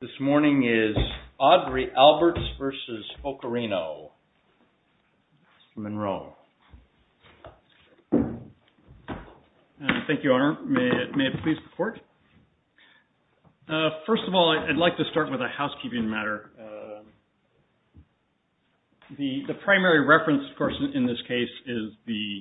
Thank you, Your Honor. May it please the Court? First of all, I'd like to start with a housekeeping matter. The primary reference, of course, in this case is the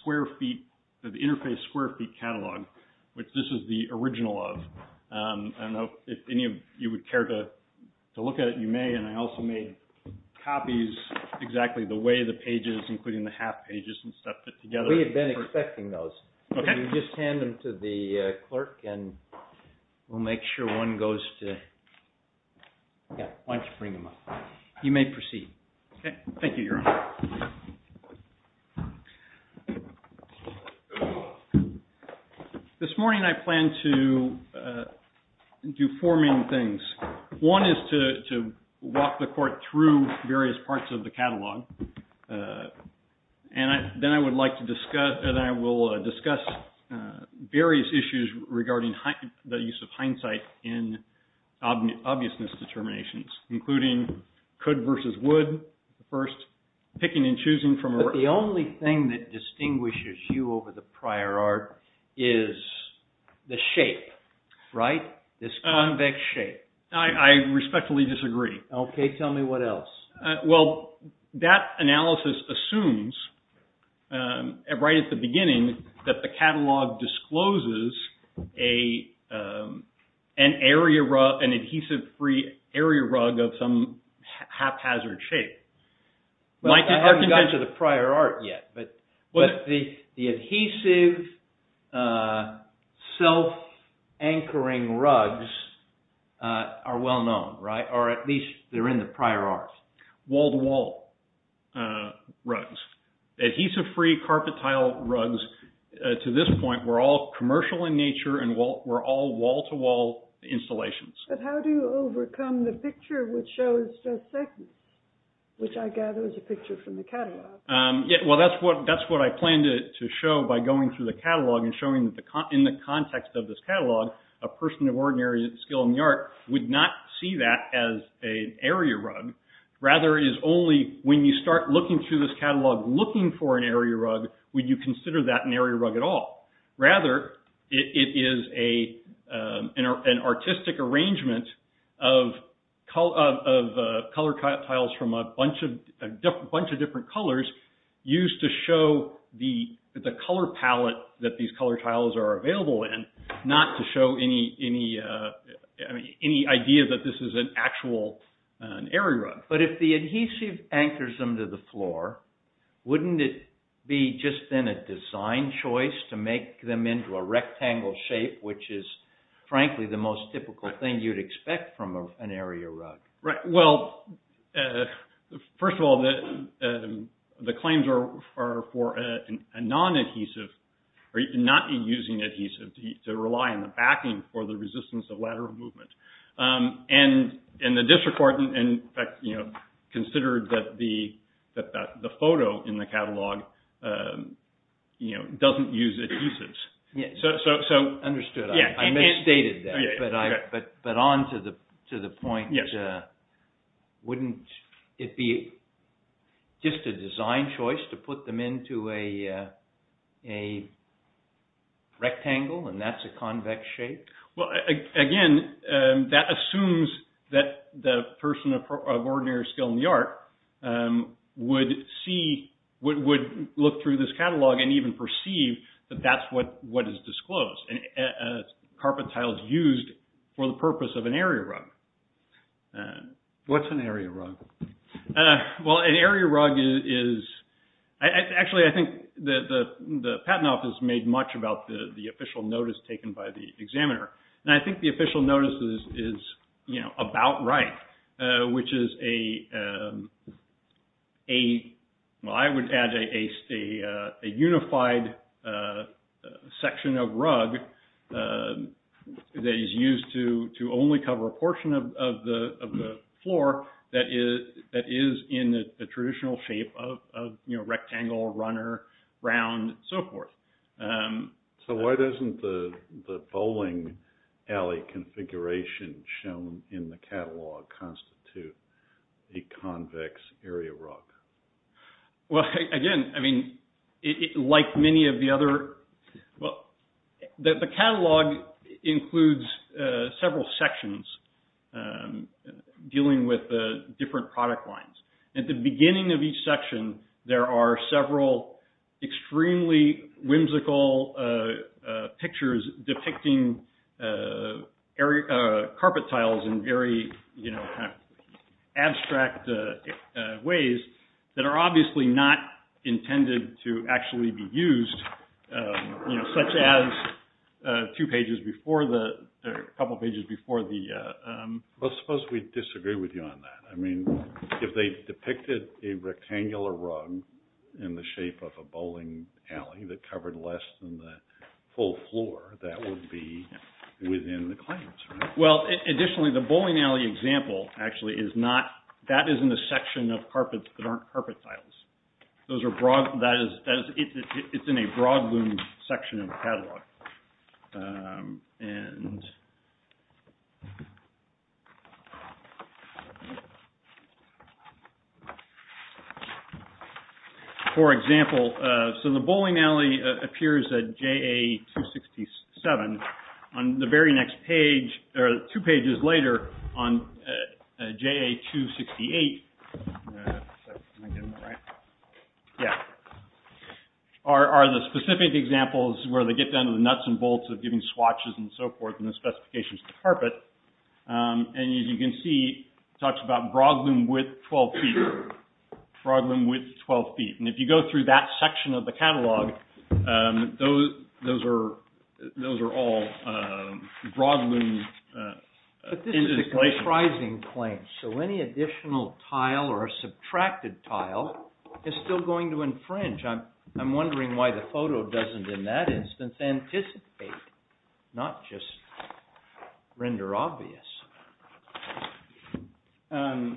square feet, the interface square feet catalog, which this is the original of. I don't know if any of you would care to look at it. You may, and I also made copies exactly the way the pages, including the half pages and stuff, fit together. We have been expecting those. Just hand them to the clerk and we'll make sure one goes to, yeah, why don't you bring them up. You may proceed. Thank you, Your Honor. This morning I plan to do four main things. One is to walk the Court through various parts of the catalog, and then I would like to discuss various issues regarding the use of hindsight in obviousness determinations, including could versus would. First, picking and choosing from... But the only thing that distinguishes you over the prior art is the shape, right? This convex shape. I respectfully disagree. Okay, tell me what else. Well, that analysis assumes, right at the beginning, that the catalog discloses an adhesive-free area rug of some haphazard shape. I haven't gotten to the prior art yet, but the adhesive self-anchoring rugs are well known, right? Or at least they're in the prior art. Wall-to-wall rugs. Adhesive-free carpet tile rugs, to this point, were all commercial in nature and were all wall-to-wall installations. But how do you overcome the picture which shows just seconds, which I gather is a picture from the catalog? Well, that's what I plan to show by going through the catalog and showing that in the context of this catalog, a person of ordinary skill in the art would not see that as an area rug. Rather, it is only when you start looking through this catalog looking for an area rug would you consider that an area rug at all. Rather, it is an artistic arrangement of color tiles from a bunch of different colors used to show the color palette that these color tiles are available in, not to show any idea that this is an actual area rug. But if the adhesive anchors them to the floor, wouldn't it be just then a design choice to make them into a rectangle shape, which is frankly the most typical thing you'd expect from an area rug? Well, first of all, the claims are for a non-adhesive, not using adhesive to rely on the backing for the resistance of lateral movement. And the district court considered that the photo in the catalog doesn't use adhesives. Understood. I misstated that. But on to the point, wouldn't it be just a design choice to put them into a rectangle and that's a convex shape? Well, again, that assumes that the person of ordinary skill in the art would look through this catalog and even perceive that that's what is disclosed. Carpet tiles used for the purpose of an area rug. What's an area rug? Well, an area rug is... Actually, I think that the patent office made much about the official notice taken by the examiner. And I think the official notice is about right, which is a... That is in the traditional shape of rectangle, runner, round, so forth. So why doesn't the bowling alley configuration shown in the catalog constitute a convex area rug? Well, again, I mean, like many of the other... The catalog includes several sections dealing with different product lines. At the beginning of each section, there are several extremely whimsical pictures depicting carpet tiles in very abstract ways that are obviously not intended to actually be used. Such as two pages before the... A couple of pages before the... I suppose we disagree with you on that. I mean, if they depicted a rectangular rug in the shape of a bowling alley that covered less than the full floor, that would be within the claims, right? Well, additionally, the bowling alley example actually is not... That is in the section of carpets that aren't carpet tiles. Those are broad... That is... It's in a broad section of the catalog. And... For example, so the bowling alley appears at JA-267. On the very next page, or two pages later on JA-268... Yeah. Are the specific examples where they get down to the nuts and bolts of giving swatches and so forth and the specifications of the carpet. And as you can see, it talks about brogloom width 12 feet. Brogloom width 12 feet. And if you go through that section of the catalog, those are all brogloom... But this is a comprising claim, so any additional tile or subtracted tile is still going to infringe. I'm wondering why the photo doesn't, in that instance, anticipate, not just render obvious. Okay.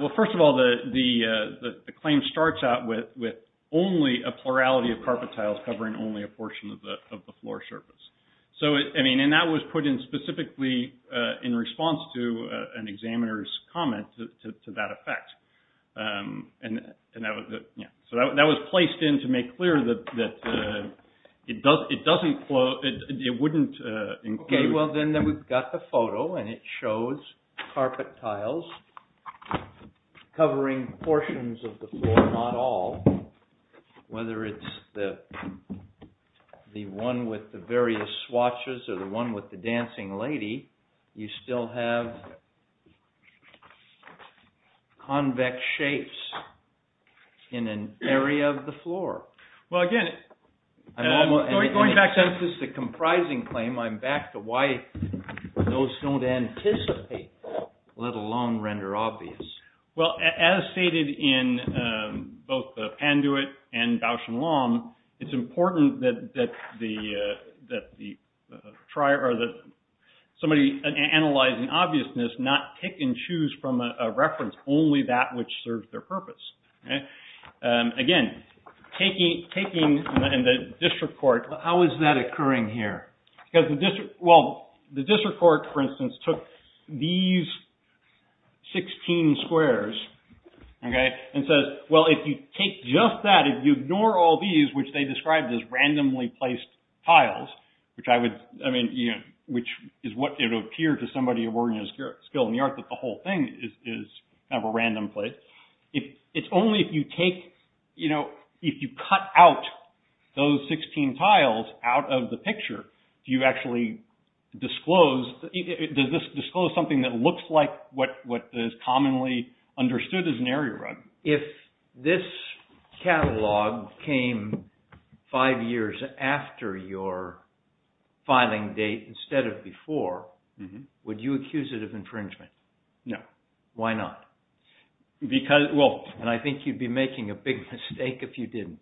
Well, first of all, the claim starts out with only a plurality of carpet tiles covering only a portion of the floor surface. And that was put in specifically in response to an examiner's comment to that effect. So that was placed in to make clear that it wouldn't include... Okay, well then we've got the photo and it shows carpet tiles covering portions of the floor, not all. Whether it's the one with the various swatches or the one with the dancing lady, you still have... ...convex shapes in an area of the floor. Well, again, going back to... Since this is a comprising claim, I'm back to why those don't anticipate, let alone render obvious. Well, as stated in both the Panduit and Bausch and Lomb, it's important that somebody analyzing obviousness not pick and choose from a reference only that which serves their purpose. Again, taking the district court... How is that occurring here? Well, the district court, for instance, took these 16 squares and says, well, if you take just that, if you ignore all these, which they described as randomly placed tiles, which is what it would appear to somebody of organized skill in the art that the whole thing is kind of a random place. It's only if you take... If you cut out those 16 tiles out of the picture, do you actually disclose... Does this disclose something that looks like what is commonly understood as an area run? If this catalog came five years after your filing date instead of before, would you accuse it of infringement? No. Why not? Because, well... And I think you'd be making a big mistake if you didn't.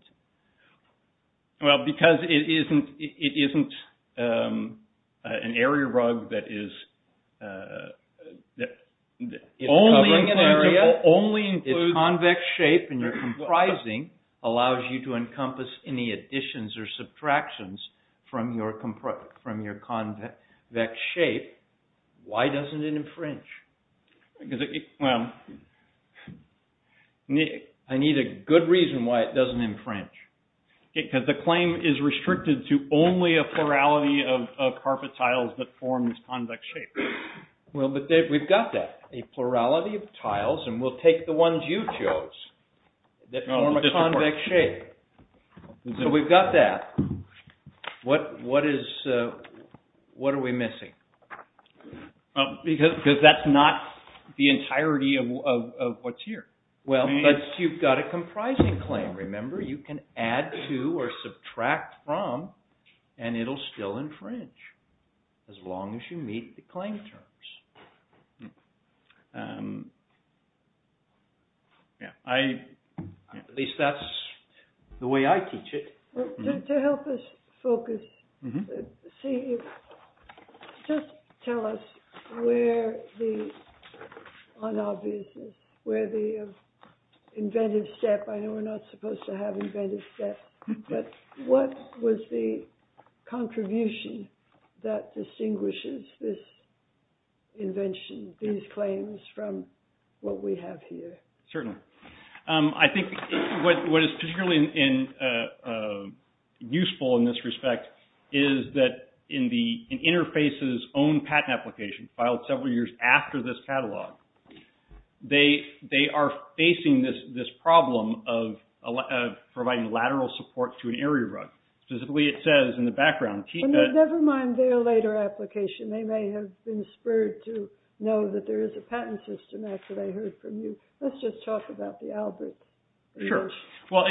Well, because it isn't an area rug that is... It's covering an area. Only includes... It's convex shape and your comprising allows you to encompass any additions or subtractions from your convex shape. Why doesn't it infringe? Well, I need a good reason why it doesn't infringe. Because the claim is restricted to only a plurality of carpet tiles that form this convex shape. Well, but we've got that. A plurality of tiles, and we'll take the ones you chose that form a convex shape. So we've got that. What are we missing? Because that's not the entirety of what's here. Well, but you've got a comprising claim, remember? You can add to or subtract from, and it'll still infringe as long as you meet the claim terms. At least that's the way I teach it. To help us focus, just tell us where the unobviousness, where the inventive step... I know we're not supposed to have inventive steps, but what was the contribution that distinguishes this invention, these claims, from what we have here? Certainly. I think what is particularly useful in this respect is that in Interface's own patent application, filed several years after this catalog, they are facing this problem of providing lateral support to an area rug. Specifically, it says in the background... Never mind their later application. They may have been spurred to know that there is a patent system after they heard from you. Let's just talk about the Alberts. Sure. Well,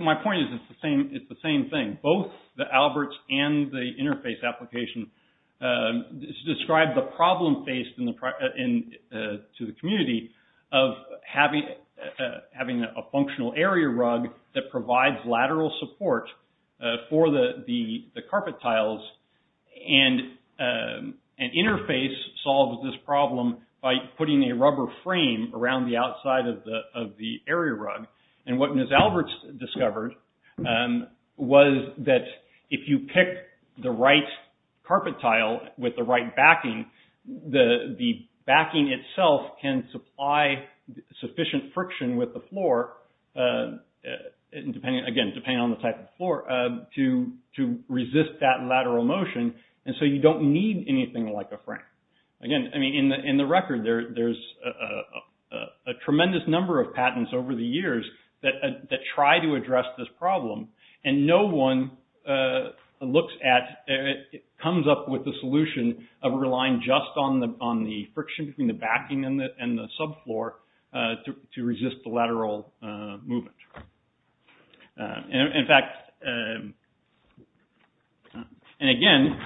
my point is it's the same thing. Both the Alberts and the Interface application describe the problem faced to the community of having a functional area rug that provides lateral support for the carpet tiles. And Interface solves this problem by putting a rubber frame around the outside of the area rug. And what Ms. Alberts discovered was that if you pick the right carpet tile with the right backing, the backing itself can supply sufficient friction with the floor, again, depending on the type of floor, to resist that lateral motion. And so you don't need anything like a frame. Again, in the record, there's a tremendous number of patents over the years that try to address this problem, and no one comes up with a solution of relying just on the friction between the backing and the subfloor to resist the lateral movement. In fact, and again,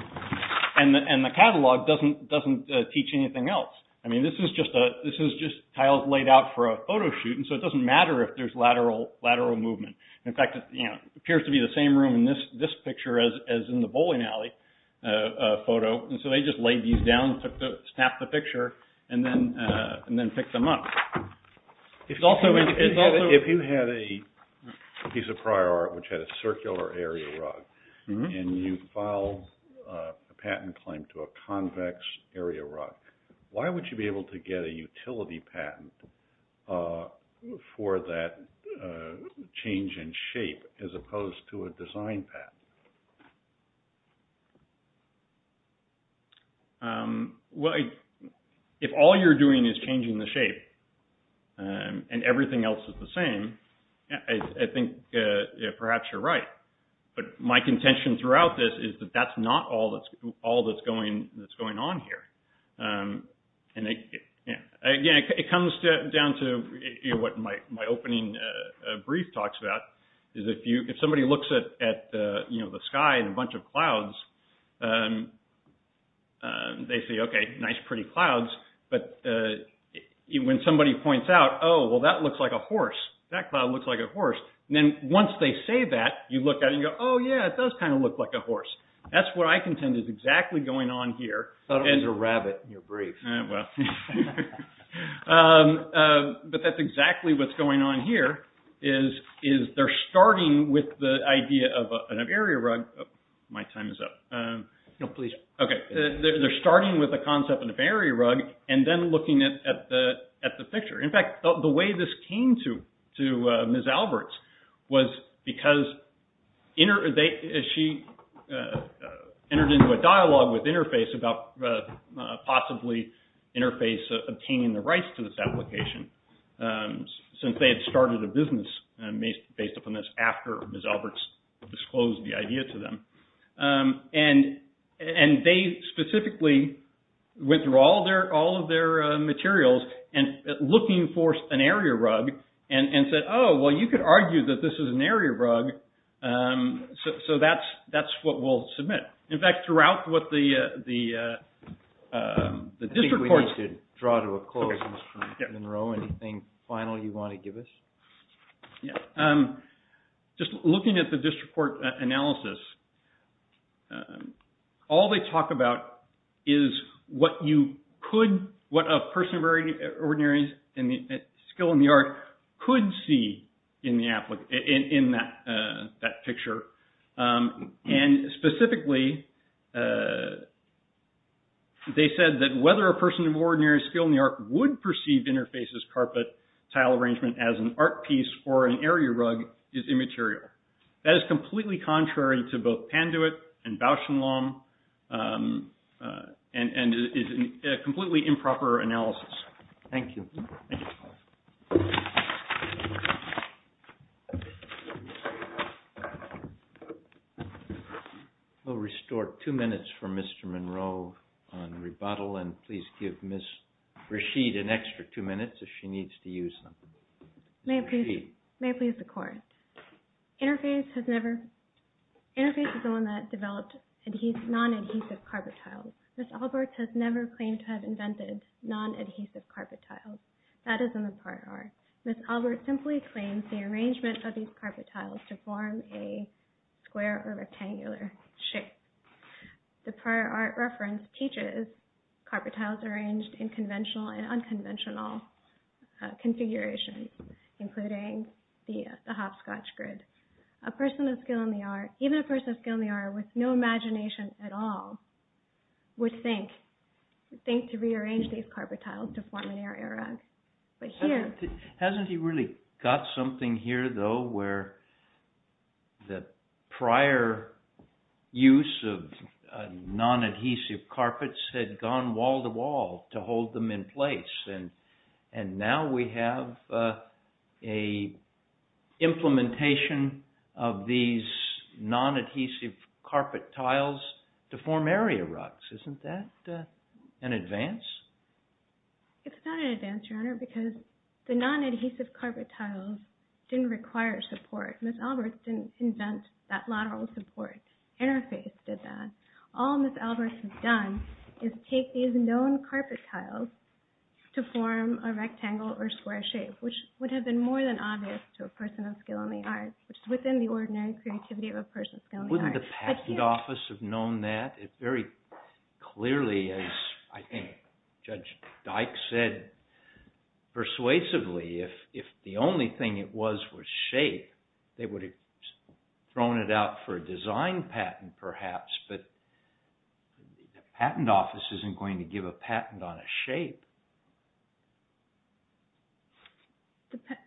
and the catalog doesn't teach anything else. I mean, this is just tiles laid out for a photo shoot, and so it doesn't matter if there's lateral movement. In fact, it appears to be the same room in this picture as in the bowling alley photo. And so they just laid these down, snapped the picture, and then picked them up. If you had a piece of prior art which had a circular area rug, and you filed a patent claim to a convex area rug, why would you be able to get a utility patent for that change in shape as opposed to a design patent? Well, if all you're doing is changing the shape and everything else is the same, I think perhaps you're right. But my contention throughout this is that that's not all that's going on here. And again, it comes down to what my opening brief talks about. If somebody looks at the sky and a bunch of clouds, they say, okay, nice pretty clouds. But when somebody points out, oh, well, that looks like a horse, that cloud looks like a horse. And then once they say that, you look at it and go, oh, yeah, it does kind of look like a horse. That's what I contend is exactly going on here. I thought it was a rabbit in your brief. Well, but that's exactly what's going on here is they're starting with the idea of an area rug. My time is up. No, please. Okay. They're starting with the concept of an area rug and then looking at the picture. In fact, the way this came to Ms. Alberts was because she entered into a dialogue with Interface about possibly Interface obtaining the rights to this application. Since they had started a business based upon this after Ms. Alberts disclosed the idea to them. And they specifically withdrew all of their materials looking for an area rug and said, oh, well, you could argue that this is an area rug. So that's what we'll submit. In fact, throughout what the district court... I think we need to draw to a close, Mr. Monroe. Anything final you want to give us? Yeah. Just looking at the district court analysis, all they talk about is what a person of ordinary skill in the art could see in that picture. And specifically, they said that whether a person of ordinary skill in the art would perceive Interface's carpet tile arrangement as an art piece or an area rug is immaterial. That is completely contrary to both Panduit and Bauschenlam and is a completely improper analysis. Thank you. We'll restore two minutes for Mr. Monroe on rebuttal and please give Ms. Rashid an extra two minutes if she needs to use them. May it please the court. Interface is the one that developed non-adhesive carpet tiles. Ms. Alberts has never claimed to have invented non-adhesive carpet tiles. That is in the prior art. Ms. Alberts simply claims the arrangement of these carpet tiles to form a square or rectangular shape. The prior art reference teaches carpet tiles arranged in conventional and unconventional configurations, including the hopscotch grid. A person of skill in the art, even a person of skill in the art with no imagination at all, would think to rearrange these carpet tiles to form an area rug. Hasn't he really got something here though where the prior use of non-adhesive carpets had gone wall to wall to hold them in place? And now we have an implementation of these non-adhesive carpet tiles to form area rugs. Isn't that an advance? It's not an advance, Your Honor, because the non-adhesive carpet tiles didn't require support. Ms. Alberts didn't invent that lateral support. Interface did that. All Ms. Alberts has done is take these known carpet tiles to form a rectangle or square shape, which would have been more than obvious to a person of skill in the art, which is within the ordinary creativity of a person of skill in the art. Wouldn't the patent office have known that very clearly, as I think Judge Dyke said persuasively? If the only thing it was was shape, they would have thrown it out for a design patent perhaps, but the patent office isn't going to give a patent on a shape.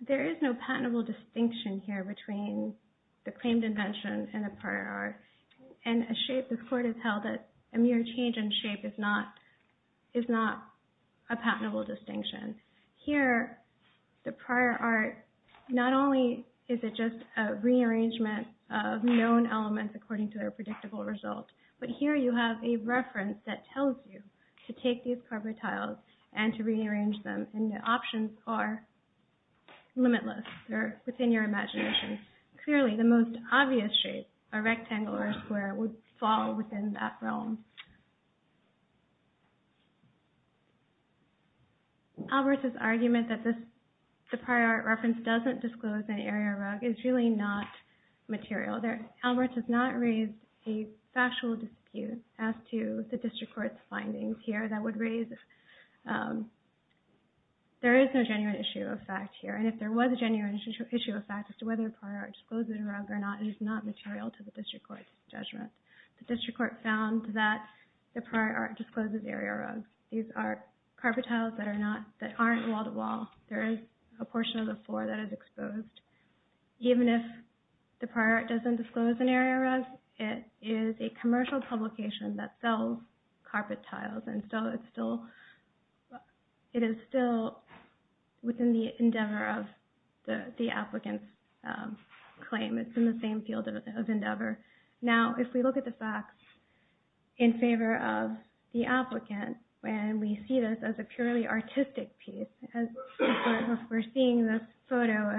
There is no patentable distinction here between the claimed invention and the prior art. And a shape, the court has held that a mere change in shape is not a patentable distinction. Here, the prior art, not only is it just a rearrangement of known elements according to their predictable result, but here you have a reference that tells you to take these carpet tiles and to rearrange them. And the options are limitless. Clearly, the most obvious shape, a rectangle or a square, would fall within that realm. Alberts' argument that the prior art reference doesn't disclose an area of rug is really not material. Alberts has not raised a factual dispute as to the district court's findings here that would raise... There is no genuine issue of fact here, and if there was a genuine issue of fact as to whether a prior art discloses a rug or not, it is not material to the district court's judgment. The district court found that the prior art discloses area rugs. These are carpet tiles that aren't wall-to-wall. There is a portion of the floor that is exposed. Even if the prior art doesn't disclose an area rug, it is a commercial publication that sells carpet tiles, and so it is still within the endeavor of the applicant's claim. It's in the same field of endeavor. Now, if we look at the facts in favor of the applicant, and we see this as a purely artistic piece, we're seeing this photo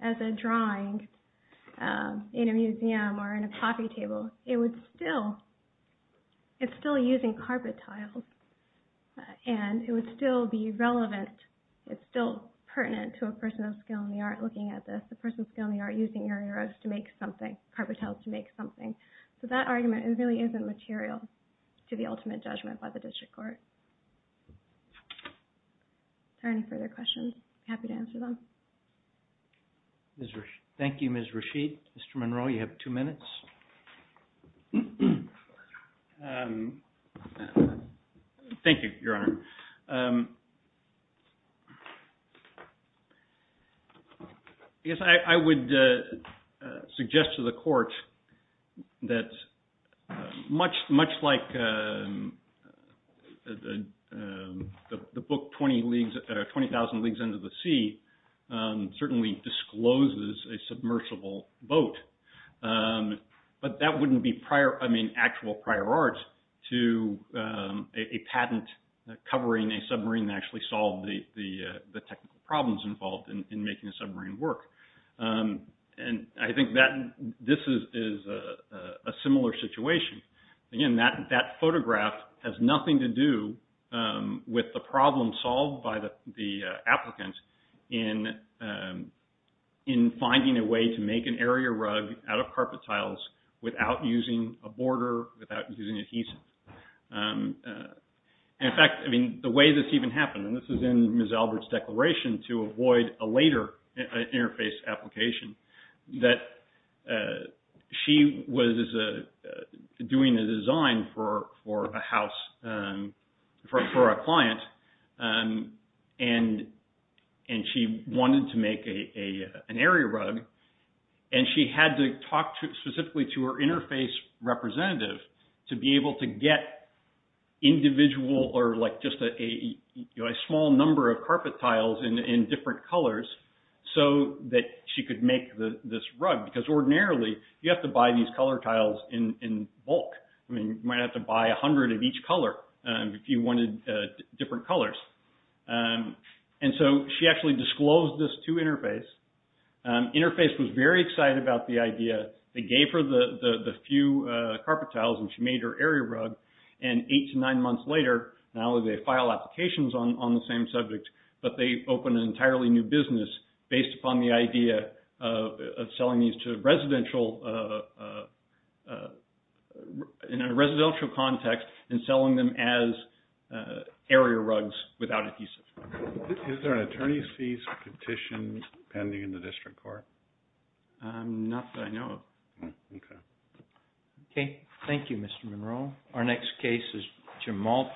as a drawing in a museum or in a coffee table. It's still using carpet tiles, and it would still be relevant. It's still pertinent to a person of skill in the art looking at this. It's a person of skill in the art using area rugs to make something, carpet tiles to make something. That argument really isn't material to the ultimate judgment by the district court. If there are any further questions, I'm happy to answer them. Thank you, Ms. Rasheed. Mr. Monroe, you have two minutes. Thank you, Your Honor. I guess I would suggest to the court that much like the book 20,000 Leagues Under the Sea certainly discloses a submersible boat, but that wouldn't be actual prior art to a patent covering a submarine that actually solved the technical problems involved in making a submarine work. I think this is a similar situation. Again, that photograph has nothing to do with the problem solved by the applicant in finding a way to make an area rug out of carpet tiles without using a border, without using adhesive. In fact, the way this even happened, and this is in Ms. Albert's declaration to avoid a later interface application, that she was doing a design for a house for a client, and she wanted to make an area rug, and she had to talk specifically to her interface representative to be able to get individual or just a small number of carpet tiles in different colors so that she could make this rug, because ordinarily you have to buy these color tiles in bulk. You might have to buy 100 of each color if you wanted different colors. She actually disclosed this to interface. Interface was very excited about the idea. They gave her the few carpet tiles, and she made her area rug. Eight to nine months later, not only did they file applications on the same subject, but they opened an entirely new business based upon the idea of selling these in a residential context and selling them as area rugs without adhesive. Is there an attorney's fees petition pending in the district court? Not that I know of. Okay. Okay. Thank you, Mr. Monroe. Our next case is Jamal.